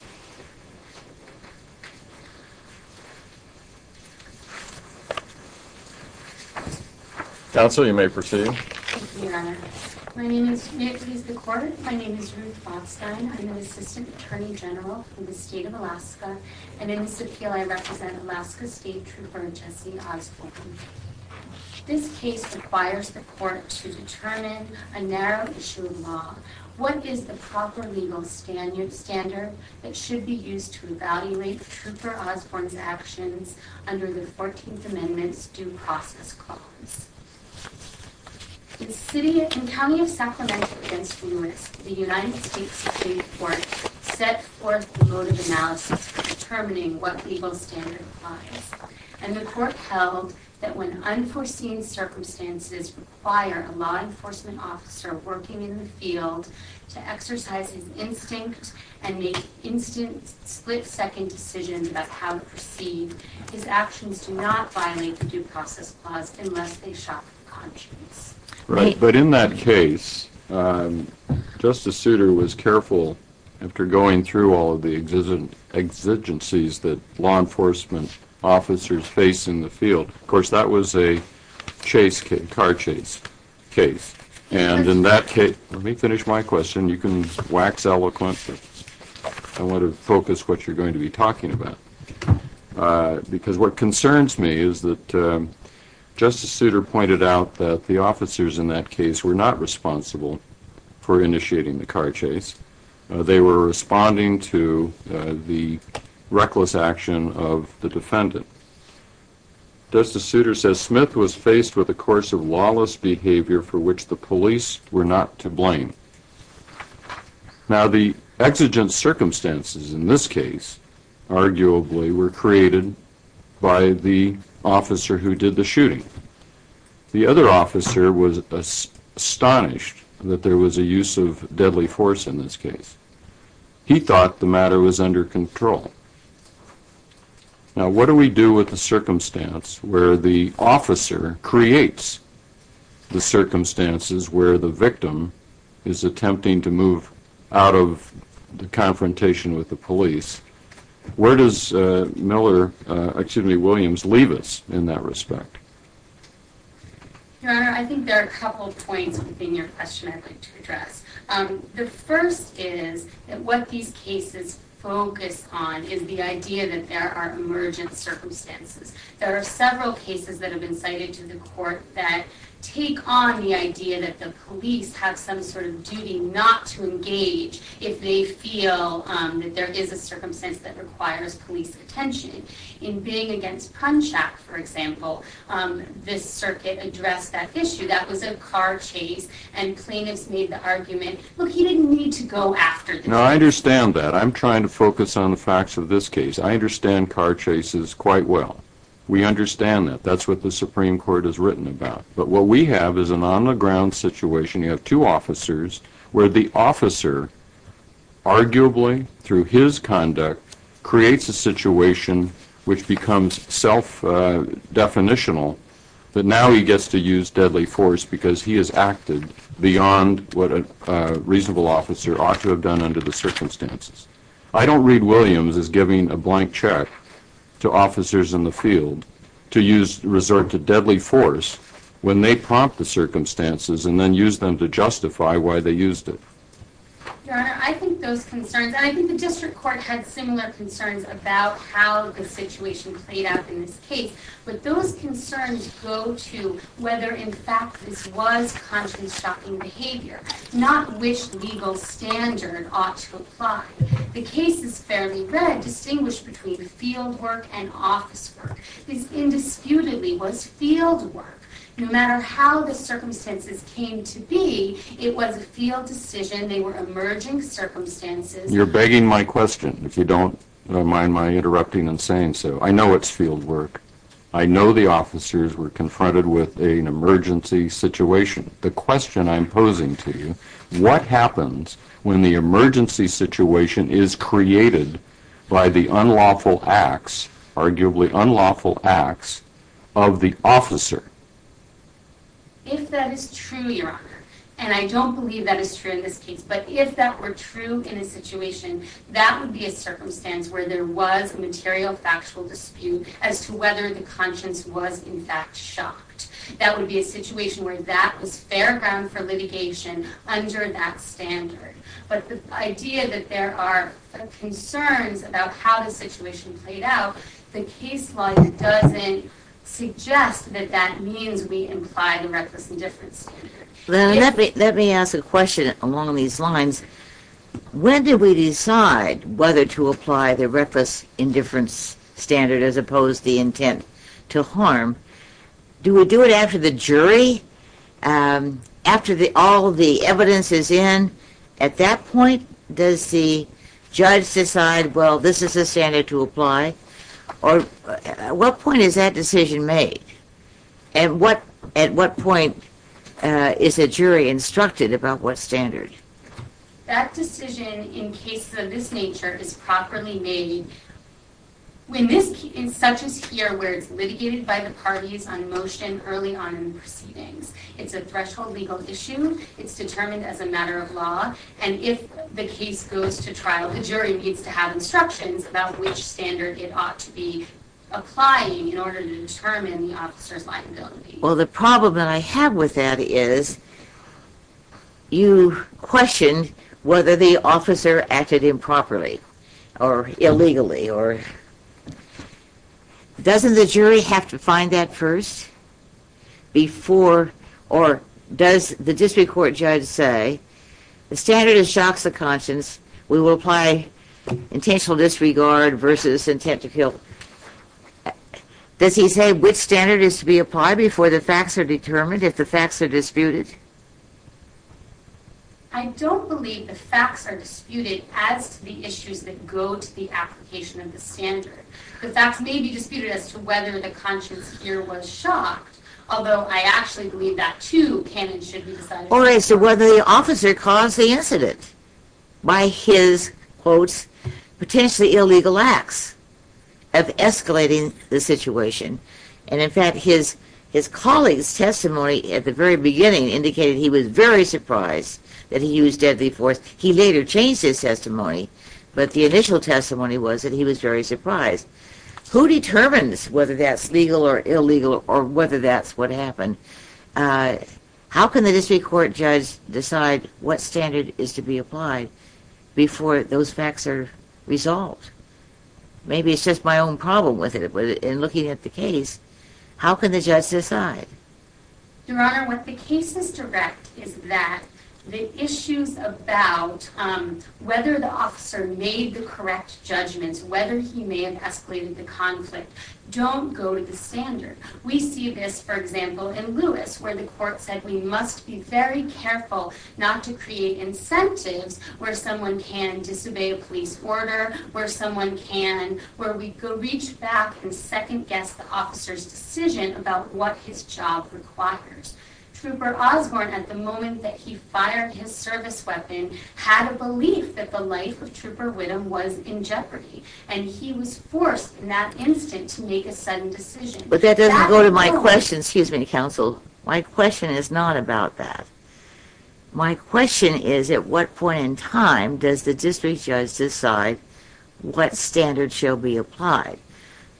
Transcription by CastingWords It should be used to evaluate Trooper Osborne's actions under the 14th Amendment's Due Process Clause. In County of Sacramento v. Lewis, the U.S. Supreme Court set forth a motive analysis for determining what legal standard applies, and the Court held that when unforeseen circumstances require a law enforcement officer working in the field to exercise his instinct and make instant, split-second decisions about how to proceed, his actions do not violate the Due Process Clause unless they shock the conscience. But in that case, Justice Souter was careful after going through all of the exigencies that law enforcement officers face in the field. Of course, that was a chase case, car chase case. And in that case, let me finish my question. You can wax eloquent, but I want to focus what you're going to be talking about. Because what concerns me is that Justice Souter pointed out that the officers in that case were not responsible for initiating the car chase. They were responding to the reckless action of the defendant. Justice Souter says Smith was faced with a course of lawless behavior for which the police were not to blame. Now the exigent circumstances in this case, arguably, were created by the officer who did the shooting. The other officer was astonished that there was a use of deadly force in this case. He thought the matter was under control. Now what do we do with the circumstance where the officer creates the circumstances where the victim is attempting to move out of the confrontation with the police? Where does Miller, excuse me, Williams, leave us in that respect? Your Honor, I think there are a couple of points within your question I'd like to address. The first is that what these cases focus on is the idea that there are emergent circumstances. There are several cases that have been cited to the court that take on the idea that the requires police attention. In being against Prunchak, for example, this circuit addressed that issue. That was a car chase and plaintiffs made the argument, look, you didn't need to go after the defendant. No, I understand that. I'm trying to focus on the facts of this case. I understand car chases quite well. We understand that. That's what the Supreme Court has written about. But what we have is an on-the-ground situation. You have two officers where the officer, arguably through his conduct, creates a situation which becomes self-definitional that now he gets to use deadly force because he has acted beyond what a reasonable officer ought to have done under the circumstances. I don't read Williams as giving a blank check to officers in the field to resort to deadly force when they prompt the circumstances and then use them to justify why they used it. Your Honor, I think those concerns, and I think the district court had similar concerns about how the situation played out in this case, but those concerns go to whether in fact this was conscience-shocking behavior, not which legal standard ought to apply. The case is fairly red, distinguished between the field work and office work. This indisputably was field work. No matter how the circumstances came to be, it was a field decision. They were emerging circumstances. You're begging my question, if you don't mind my interrupting and saying so. I know it's field work. I know the officers were confronted with an emergency situation. The question I'm posing to you, what happens when the emergency situation is created by the unlawful acts, arguably unlawful acts, of the officer? If that is true, Your Honor, and I don't believe that is true in this case, but if that were true in a situation, that would be a circumstance where there was a material factual dispute as to whether the conscience was in fact shocked. That would be a situation where that was fair ground for litigation under that standard. But the idea that there are concerns about how the situation played out, the case law doesn't suggest that that means we imply the reckless indifference standard. Let me ask a question along these lines. When did we decide whether to apply the reckless indifference standard as opposed to the intent to harm? Do we do it after the jury? After all the evidence is in, at that point, does the judge decide, well, this is the standard to apply, or at what point is that decision made? And at what point is a jury instructed about what standard? That decision in cases of this nature is properly made in such a sphere where it's litigated by the parties on motion early on in proceedings. It's a threshold legal issue. It's determined as a matter of law, and if the case goes to trial, the jury needs to have instructions about which standard it ought to be applying in order to determine the officer's liability. Well, the problem that I have with that is you question whether the officer acted improperly or illegally. Doesn't the jury have to find that first before, or does the district court judge say the standard is shocks of conscience, we will apply intentional disregard versus intent to kill? Does he say which standard is to be applied before the facts are determined, if the facts are disputed? I don't believe the facts are disputed as to the issues that go to the application of the standard. The facts may be disputed as to whether the conscience here was shocked, although I actually believe that, too, can and should be decided. Or as to whether the officer caused the incident by his, quotes, potentially illegal acts of escalating the situation, and in fact, his colleagues' testimony at the very beginning indicated he was very surprised that he used deadly force. He later changed his testimony, but the initial testimony was that he was very surprised. Who determines whether that's legal or illegal or whether that's what happened? How can the district court judge decide what standard is to be applied before those facts are resolved? Maybe it's just my own problem with it, but in looking at the case, how can the judge decide? Your Honor, what the case is direct is that the issues about whether the officer made the correct judgments, whether he may have escalated the conflict, don't go to the standard. We see this, for example, in Lewis, where the court said we must be very careful not to create incentives where someone can disobey a police order, where someone can, where we go reach back and second-guess the officer's decision about what his job requires. Trooper Osborne, at the moment that he fired his service weapon, had a belief that the life of Trooper Widom was in jeopardy, and he was forced in that instant to make a sudden decision. But that doesn't go to my question, excuse me, counsel. My question is not about that. My question is, at what point in time does the district judge decide what standard shall be applied?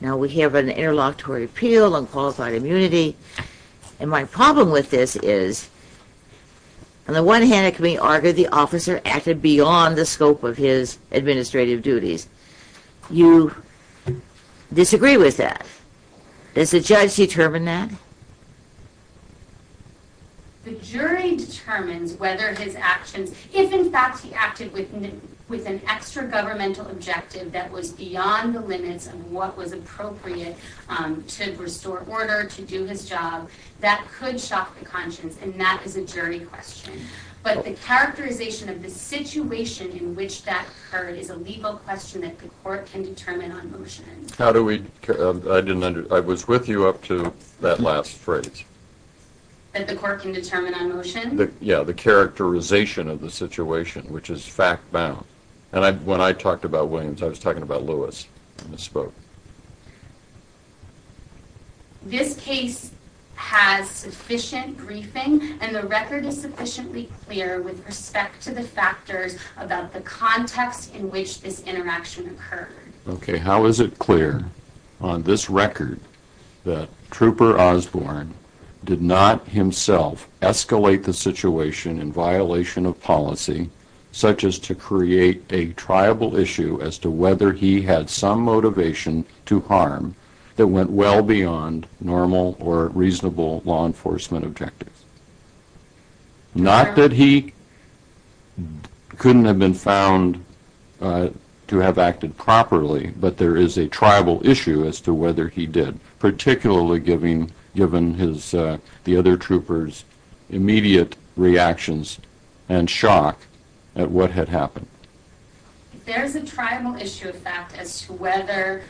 Now, we have an interlocutory appeal, unqualified immunity, and my problem with this is, on the one hand, it can be argued the officer acted beyond the scope of his administrative duties. You disagree with that. Does the judge determine that? The jury determines whether his actions, if in fact he acted with an extra-governmental objective that was beyond the limits of what was appropriate to restore order, to do his job, that could shock the conscience, and that is a jury question. But the characterization of the situation in which that occurred is a legal question that the court can determine on motion. How do we, I didn't understand, I was with you up to that last phrase. That the court can determine on motion? Yeah, the characterization of the situation, which is fact-bound. When I talked about Williams, I was talking about Lewis when I spoke. This case has sufficient briefing and the record is sufficiently clear with respect to the factors about the context in which this interaction occurred. Okay, how is it clear on this record that Trooper Osborne did not himself escalate the issue as to whether he had some motivation to harm that went well beyond normal or reasonable law enforcement objectives? Not that he couldn't have been found to have acted properly, but there is a tribal issue as to whether he did, particularly given the other troopers' immediate reactions and shock at what had happened. There's a tribal issue of fact as to whether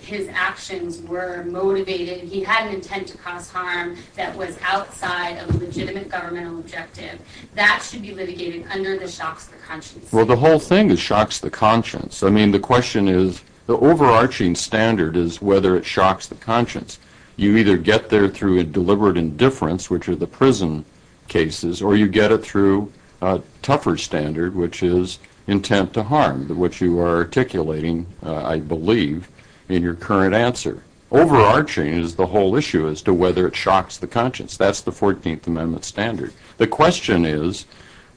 his actions were motivated, he had an intent to cause harm that was outside of a legitimate governmental objective. That should be litigated under the shocks of the conscience. Well, the whole thing is shocks the conscience. I mean, the question is, the overarching standard is whether it shocks the conscience. You either get there through a deliberate indifference, which are the prison cases, or you get it through a tougher standard, which is intent to harm, which you are articulating, I believe, in your current answer. Overarching is the whole issue as to whether it shocks the conscience. That's the 14th Amendment standard. The question is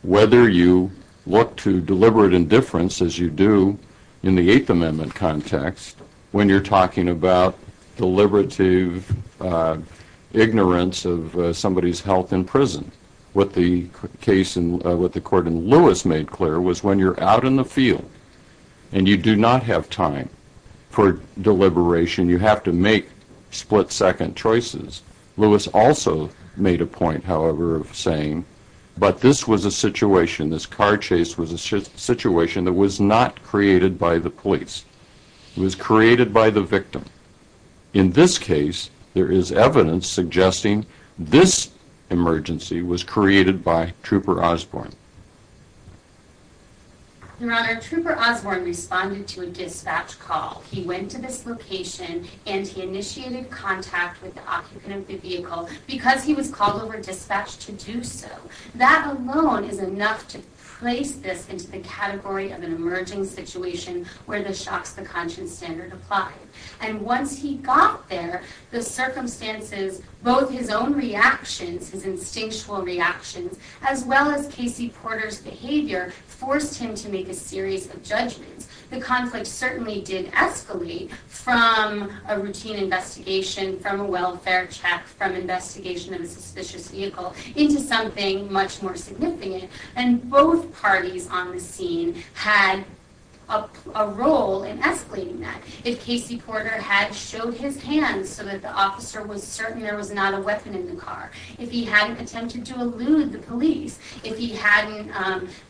whether you look to deliberate indifference as you do in the 8th Amendment context when you're talking about deliberative ignorance of somebody's health in prison. What the court in Lewis made clear was when you're out in the field and you do not have time for deliberation, you have to make split-second choices. Lewis also made a point, however, of saying, but this was a situation, this car chase was a situation that was not created by the police. It was created by the victim. In this case, there is evidence suggesting this emergency was created by Trooper Osborne. Your Honor, Trooper Osborne responded to a dispatch call. He went to this location and he initiated contact with the occupant of the vehicle because he was called over dispatch to do so. That alone is enough to place this into the category of an emerging situation where the shocks the conscience standard apply. Once he got there, the circumstances, both his own reactions, his instinctual reactions, as well as Casey Porter's behavior, forced him to make a series of judgments. The conflict certainly did escalate from a routine investigation, from a welfare check, from investigation of a suspicious vehicle into something much more significant. Both parties on the scene had a role in escalating that. If Casey Porter had showed his hands so that the officer was certain there was not a weapon in the car, if he hadn't attempted to elude the police, if he hadn't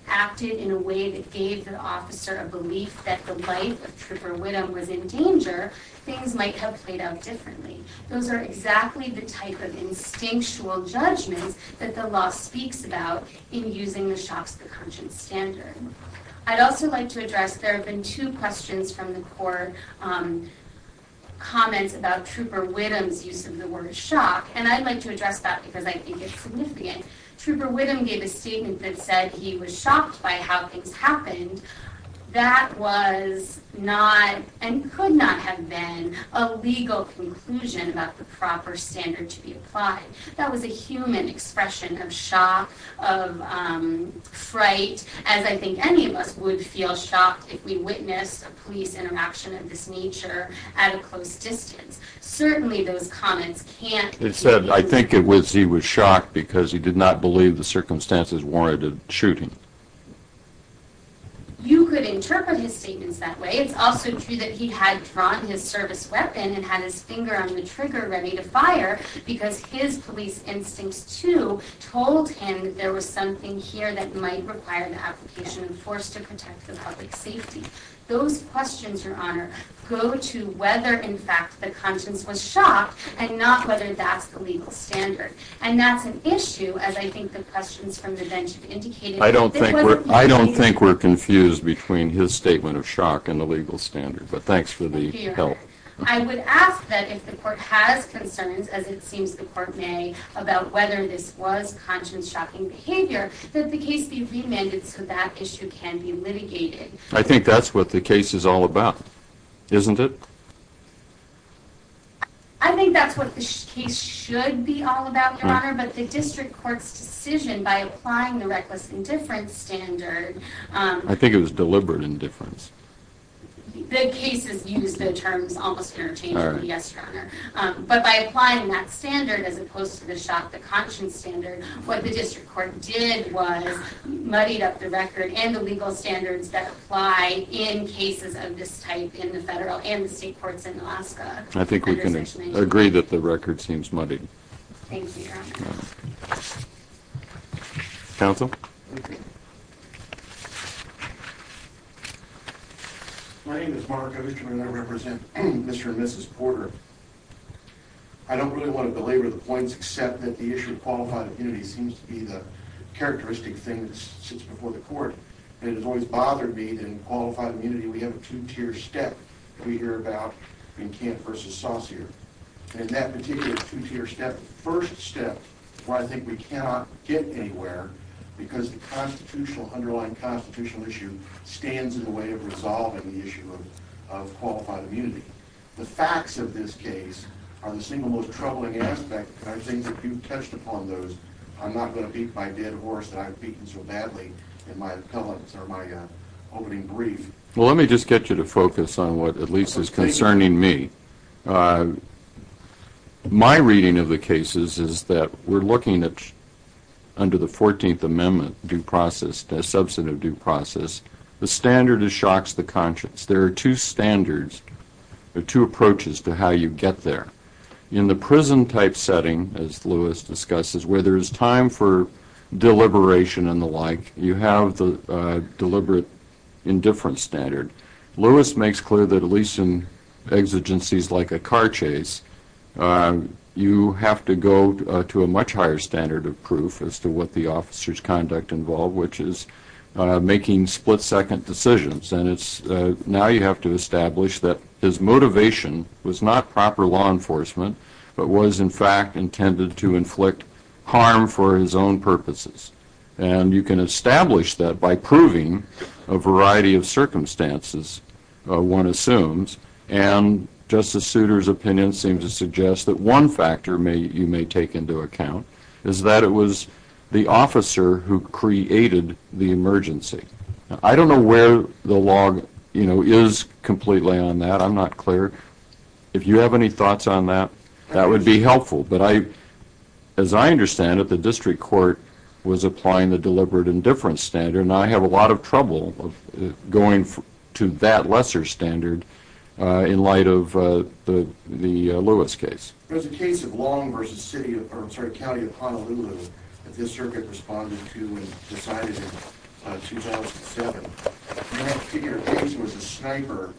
acted in a way that gave the officer a belief that the life of Trooper Whittum was in danger, things might have played out differently. Those are exactly the type of instinctual judgments that the law speaks about in using the shocks the conscience standard. I'd also like to address, there have been two questions from the court, comments about Trooper Whittum's use of the word shock, and I'd like to address that because I think it's significant. Trooper Whittum gave a statement that said he was shocked by how things happened. That was not, and could not have been, a legal conclusion about the proper standard to be applied. That was a human expression of shock, of fright, as I think any of us would feel shocked if we witnessed a police interaction of this nature at a close distance. Certainly those comments can't be... It said, I think it was he was shocked because he did not believe the circumstances warranted shooting. You could interpret his statements that way. It's also true that he had drawn his service weapon and had his finger on the trigger ready to fire because his police instincts, too, told him there was something here that might require the application of force to protect the public safety. Those questions, Your Honor, go to whether, in fact, the conscience was shocked, and not whether that's the legal standard. And that's an issue, as I think the questions from the bench have indicated. I don't think we're confused between his statement of shock and the legal standard, but thanks for the help. I would ask that if the court has concerns, as it seems the court may, about whether this was conscience-shocking behavior, that the case be remanded so that issue can be litigated. I think that's what the case is all about, isn't it? I think that's what the case should be all about, Your Honor, but the district court's decision by applying the reckless indifference standard... I think it was deliberate indifference. The case has used the terms almost interchangeably, yes, Your Honor, but by applying that standard as opposed to the shock, the conscience standard, what the district court did was muddied up the record and the legal standards that apply in cases of this type in the federal and the state courts in Alaska. I think we can agree that the record seems muddied. Thank you, Your Honor. Counsel? My name is Mark Osterman and I represent Mr. and Mrs. Porter. I don't really want to belabor the points, except that the issue of qualified immunity seems to be the characteristic thing that sits before the court, and it has always bothered me that in qualified immunity we have a two-tier step that we hear about in Kent v. Saucere. And that particular two-tier step, the first step, is why I think we cannot get anywhere because the constitutional, underlying constitutional issue stands in the way of resolving the issue of qualified immunity. The facts of this case are the single most troubling aspect, and I think that you've touched upon those. I'm not going to beat my dead horse that I've beaten so badly in my opening brief. Well, let me just get you to focus on what at least is concerning me. My reading of the cases is that we're looking at, under the 14th Amendment due process, the substantive due process, the standard that shocks the conscience. There are two standards, two approaches to how you get there. In the prison-type setting, as Lewis discusses, where there is time for deliberation and the like, you have the deliberate indifference standard. Lewis makes clear that at least in exigencies like a car chase, you have to go to a much higher standard of proof as to what the officer's conduct involved, which is making split-second decisions. And it's now you have to establish that his motivation was not proper law enforcement, but was in fact intended to inflict harm for his own purposes. And you can establish that by proving a variety of circumstances, one assumes. And Justice Souter's opinion seems to suggest that one factor you may take into account is that it was the officer who created the emergency. I don't know where the log is completely on that. I'm not clear. If you have any thoughts on that, that would be helpful. But as I understand it, the district court was applying the deliberate indifference standard, and I have a lot of trouble going to that lesser standard in light of the Lewis case. There's a case of Long versus County of Honolulu that this circuit responded to and decided in 2007. And that particular case was a sniper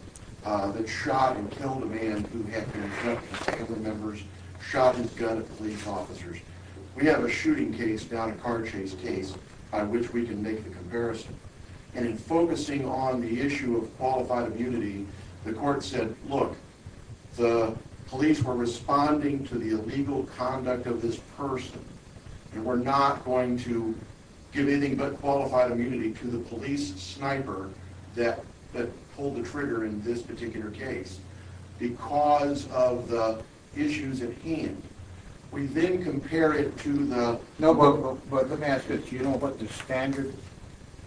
that shot and killed a man who had been abducted by several members, shot his gun at police officers. We have a shooting case, not a car chase case, by which we can make the comparison. And in focusing on the issue of qualified immunity, the court said, look, the police were responding to the illegal conduct of this person, and we're not going to give anything but qualified immunity to the police sniper that pulled the trigger in this particular case. Because of the issues at hand, we then compare it to the... No, but let me ask you this. Do you know what the standard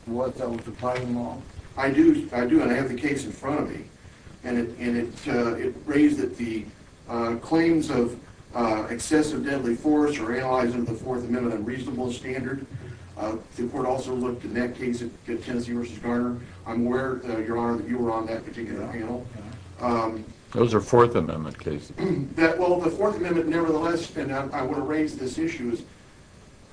was that was applied in the law? I do. I do, and I have the case in front of me. And it raised that the claims of excessive deadly force are analyzed under the Fourth Amendment unreasonable standard. The court also looked in that case at Tennessee versus Garner. I'm aware, Your Honor, that you were on that particular panel. Those are Fourth Amendment cases. Well, the Fourth Amendment, nevertheless, and I want to raise this issue, is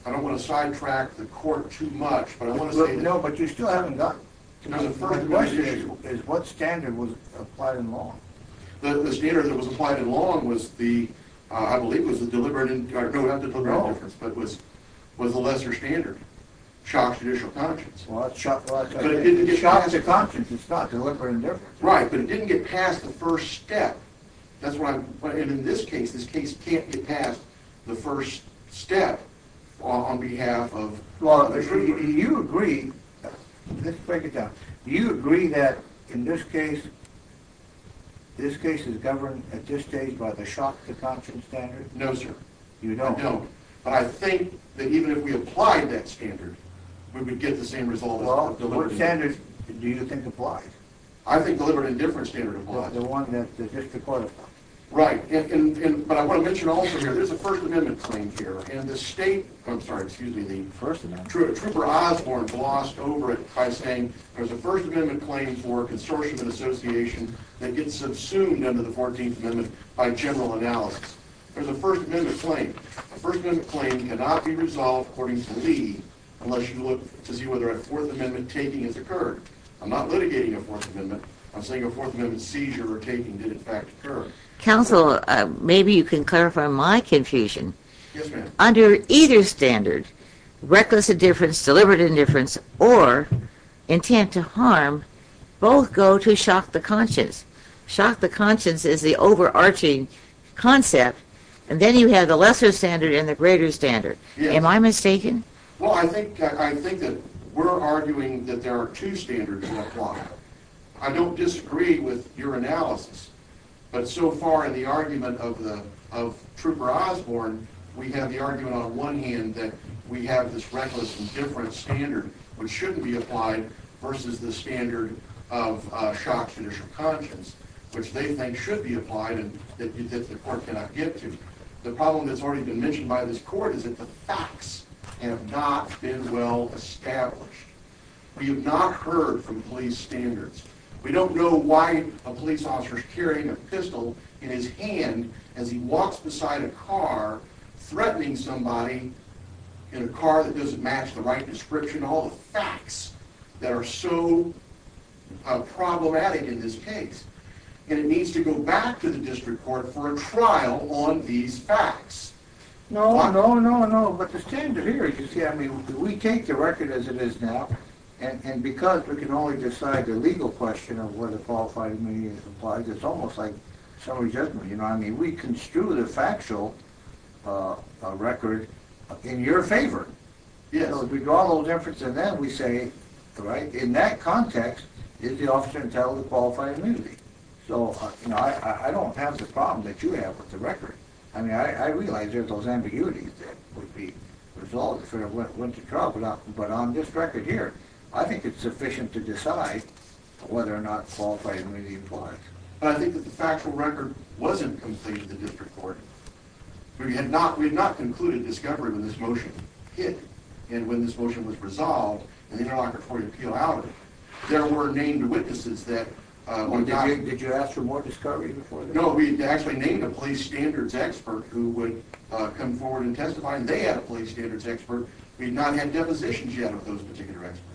I don't want to sidetrack the court too much, but I want to say... No, but you still haven't gotten to the First Amendment issue. The question is, what standard was applied in law? The standard that was applied in law was the, I believe, was the deliberate... I don't have to tell you the difference, but it was the lesser standard. Shocks judicial conscience. Well, that's... But it didn't get past... Shocks of conscience, it's not deliberate indifference. Right, but it didn't get past the first step. That's why I'm... And in this case, this case can't get past the first step on behalf of... Do you agree... Let's break it down. Do you agree that in this case, this case is governed at this stage by the shocks of conscience standard? No, sir. You don't? No. But I think that even if we applied that standard, we would get the same result. Well, what standard do you think applied? I think deliberate indifference standard applied. The one that hit the court. Right, but I want to mention also here, there's a First Amendment claim here, and the state... I'm sorry, excuse me, the... First Amendment. Trooper Osborne glossed over it by saying there's a First Amendment claim for consortium and association that gets subsumed under the 14th Amendment by general analysis. There's a First Amendment claim. A First Amendment claim cannot be resolved, according to me, unless you look to see whether a Fourth Amendment taking has occurred. I'm not litigating a Fourth Amendment. I'm saying a Fourth Amendment seizure or taking did in fact occur. Counsel, maybe you can clarify my confusion. Yes, ma'am. Under either standard, reckless indifference, deliberate indifference, or intent to harm, both go to shock the conscience. Shock the conscience is the overarching concept, and then you have the lesser standard and the greater standard. Am I mistaken? Well, I think that we're arguing that there are two standards applied. I don't disagree with your analysis, but so far in the argument of Trooper Osborne, we have the argument on one hand that we have this reckless indifference standard, which they think should be applied and that the court cannot get to. The problem that's already been mentioned by this court is that the facts have not been well established. We have not heard from police standards. We don't know why a police officer is carrying a pistol in his hand as he walks beside a car threatening somebody in a car that doesn't match the right description. All the facts that are so problematic in this case, and it needs to go back to the district court for a trial on these facts. No, no, no, no. But the standard here, you see, I mean, we take the record as it is now, and because we can only decide the legal question of whether qualified immunity is applied, it's almost like summary judgment, you know what I mean? We construe the factual record in your favor. So if we draw a little difference in that, we say, in that context, is the officer entitled to qualified immunity? So I don't have the problem that you have with the record. I mean, I realize there's those ambiguities that would be resolved if it went to trial, but on this record here, I think it's sufficient to decide whether or not qualified immunity applies. I think that the factual record wasn't completed in the district court. We had not concluded discovery when this motion hit, and when this motion was resolved, and the interlocutory appeal outed it. There were named witnesses that were not... Did you ask for more discovery before that? No, we had actually named a police standards expert who would come forward and testify, and they had a police standards expert. We had not had depositions yet of those particular experts.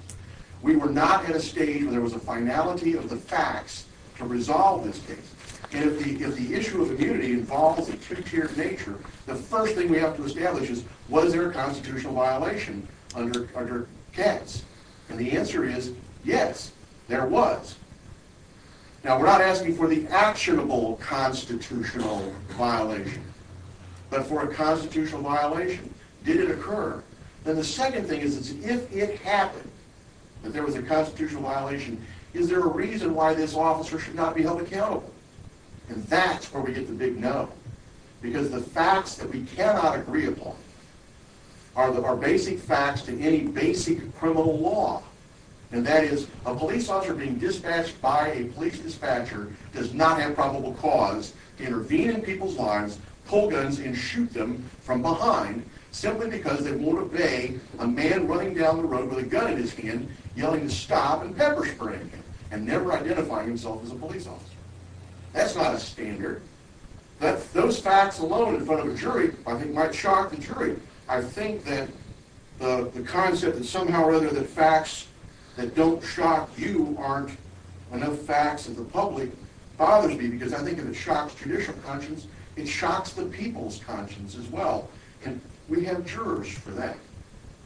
We were not at a stage where there was a finality of the facts to resolve this case. And if the issue of immunity involves a two-tiered nature, the first thing we have to establish is, was there a constitutional violation under Katz? And the answer is, yes, there was. Now, we're not asking for the actionable constitutional violation, but for a constitutional violation. Did it occur? Then the second thing is, if it happened that there was a constitutional violation, is there a reason why this officer should not be held accountable? And that's where we get the big no. Because the facts that we cannot agree upon are basic facts to any basic criminal law. And that is, a police officer being dispatched by a police dispatcher does not have probable cause to intervene in people's lives, pull guns, and shoot them from behind, simply because they won't obey a man running down the road with a gun in his hand, yelling, stop, and pepper spray, and never identifying himself as a police officer. That's not a standard. But those facts alone in front of a jury, I think, might shock the jury. I think that the concept that somehow or other the facts that don't shock you aren't enough facts that the public bothers me, because I think if it shocks judicial conscience, it shocks the people's conscience as well. And we have jurors for that.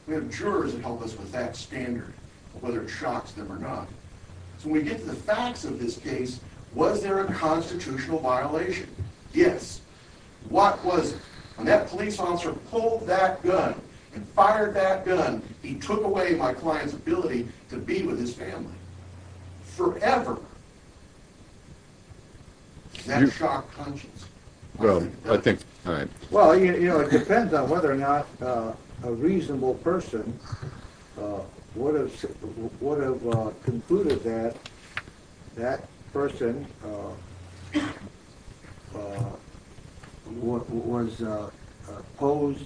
We have jurors that help us with that standard, whether it shocks them or not. So when we get to the facts of this case, was there a constitutional violation? Yes. What was it? When that police officer pulled that gun and fired that gun, he took away my client's ability to be with his family. Forever. Does that shock conscience? Well, I think, all right. Well, you know, it depends on whether or not a reasonable person would have concluded that that person posed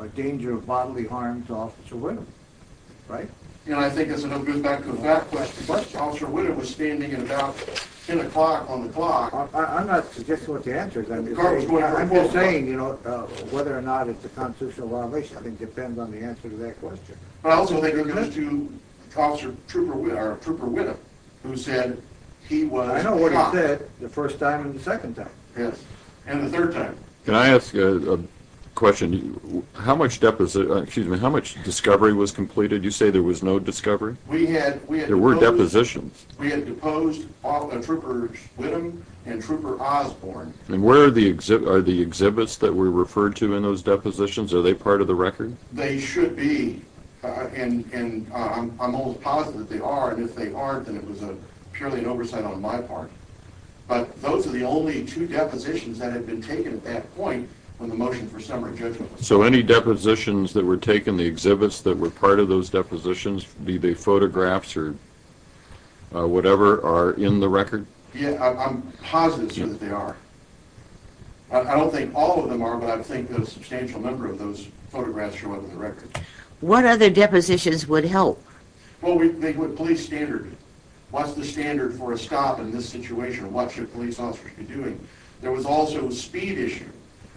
a danger of bodily harm to Officer Whittem. Right? And I think it's a good back-to-back question. Officer Whittem was standing at about 10 o'clock on the clock. I'm not suggesting what the answer is. I'm just saying, you know, whether or not it's a constitutional violation. I think it depends on the answer to that question. Also, it goes to Trooper Whittem, who said he was shocked. I know what he said the first time and the second time. Yes. And the third time. Can I ask a question? How much discovery was completed? You say there was no discovery? There were depositions. We had deposed Trooper Whittem and Trooper Osborne. And where are the exhibits that were referred to in those depositions? Are they part of the record? They should be. And I'm almost positive that they are. And if they aren't, then it was purely an oversight on my part. But those are the only two depositions that had been taken at that point when the motion for summary judgment was taken. So any depositions that were taken, the exhibits that were part of those depositions, be they photographs or whatever, are in the record? I'm positive that they are. I don't think all of them are, but I think a substantial number of those photographs show up in the record. What other depositions would help? Well, the police standard. What's the standard for a stop in this situation? What should police officers be doing? There was also a speed issue.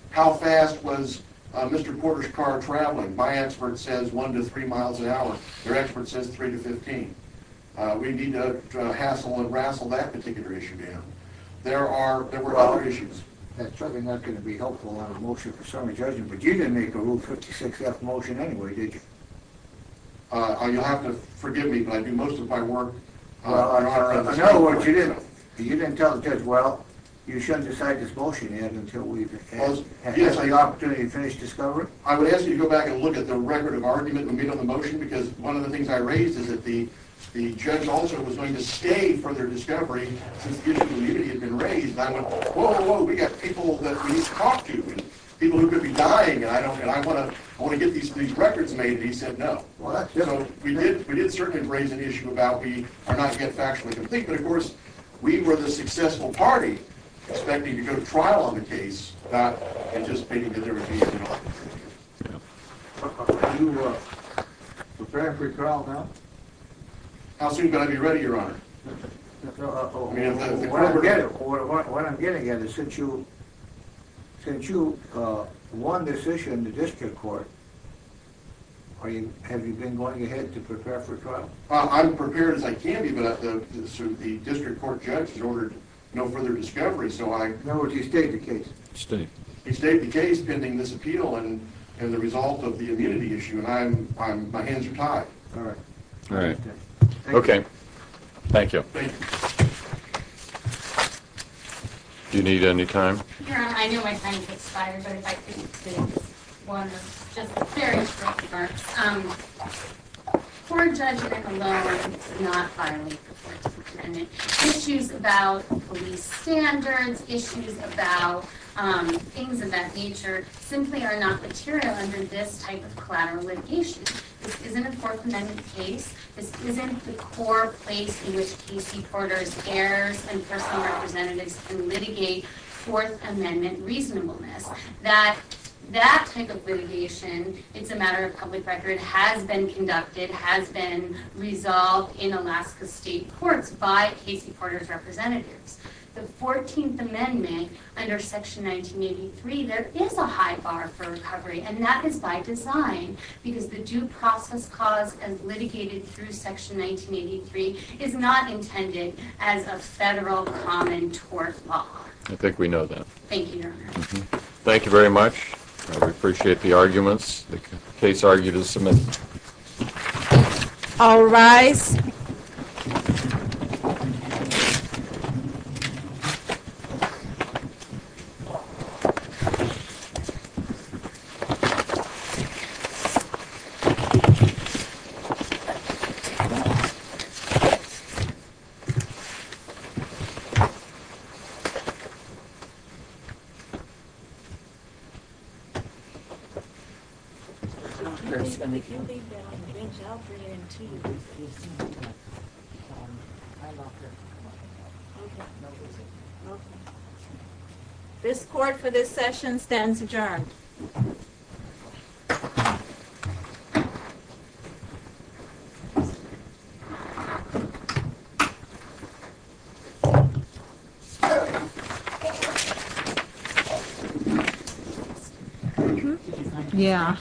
How fast was Mr. Porter's car traveling? My expert says 1 to 3 miles an hour. Their expert says 3 to 15. We need to hassle and rassle that particular issue down. There were other issues. That's certainly not going to be helpful on a motion for summary judgment, but you didn't make a Rule 56-F motion anyway, did you? You'll have to forgive me, but I do most of my work. In other words, you didn't. You didn't tell the judge, well, you shouldn't decide this motion yet until we've had the opportunity to finish discovery? I would ask you to go back and look at the record of argument in the middle of the motion because one of the things I raised is that the judge also was going to stay for their discovery since the issue of immunity had been raised, and I went, whoa, whoa, we've got people that we need to talk to and people who could be dying, and I want to get these records made, and he said no. So we did certainly raise an issue about we are not yet factually complete, but, of course, we were the successful party expecting to go to trial on the case, not anticipating that there would be an argument. Are you prepared for trial now? How soon can I be ready, Your Honor? What I'm getting at is since you won this issue in the district court, have you been going ahead to prepare for trial? I'm prepared as I can be, but the district court judge has ordered no further discovery, so I... I stayed. He stayed the case pending this appeal and the result of the immunity issue, and my hands are tied. All right. All right. Okay. Thank you. Thank you. Do you need any time? Your Honor, I know my time has expired, but if I could just say one of just a very short remarks. Court Judge Nickelodeon did not file a report to the defendant. Issues about police standards, issues about things of that nature simply are not material under this type of collateral litigation. This isn't a Fourth Amendment case. This isn't the core place in which case reporters, heirs, and personal representatives can litigate Fourth Amendment reasonableness. That type of litigation, it's a matter of public record, has been conducted, and it has been resolved in Alaska State courts by case reporters' representatives. The 14th Amendment under Section 1983, there is a high bar for recovery, and that is by design because the due process cause as litigated through Section 1983 is not intended as a federal common tort law. I think we know that. Thank you, Your Honor. Thank you very much. I appreciate the arguments. The case argued as submitted. All rise. If you leave that on the bench, I'll bring it in to you. This court for this session stands adjourned. Thank you. Yeah. Thank you.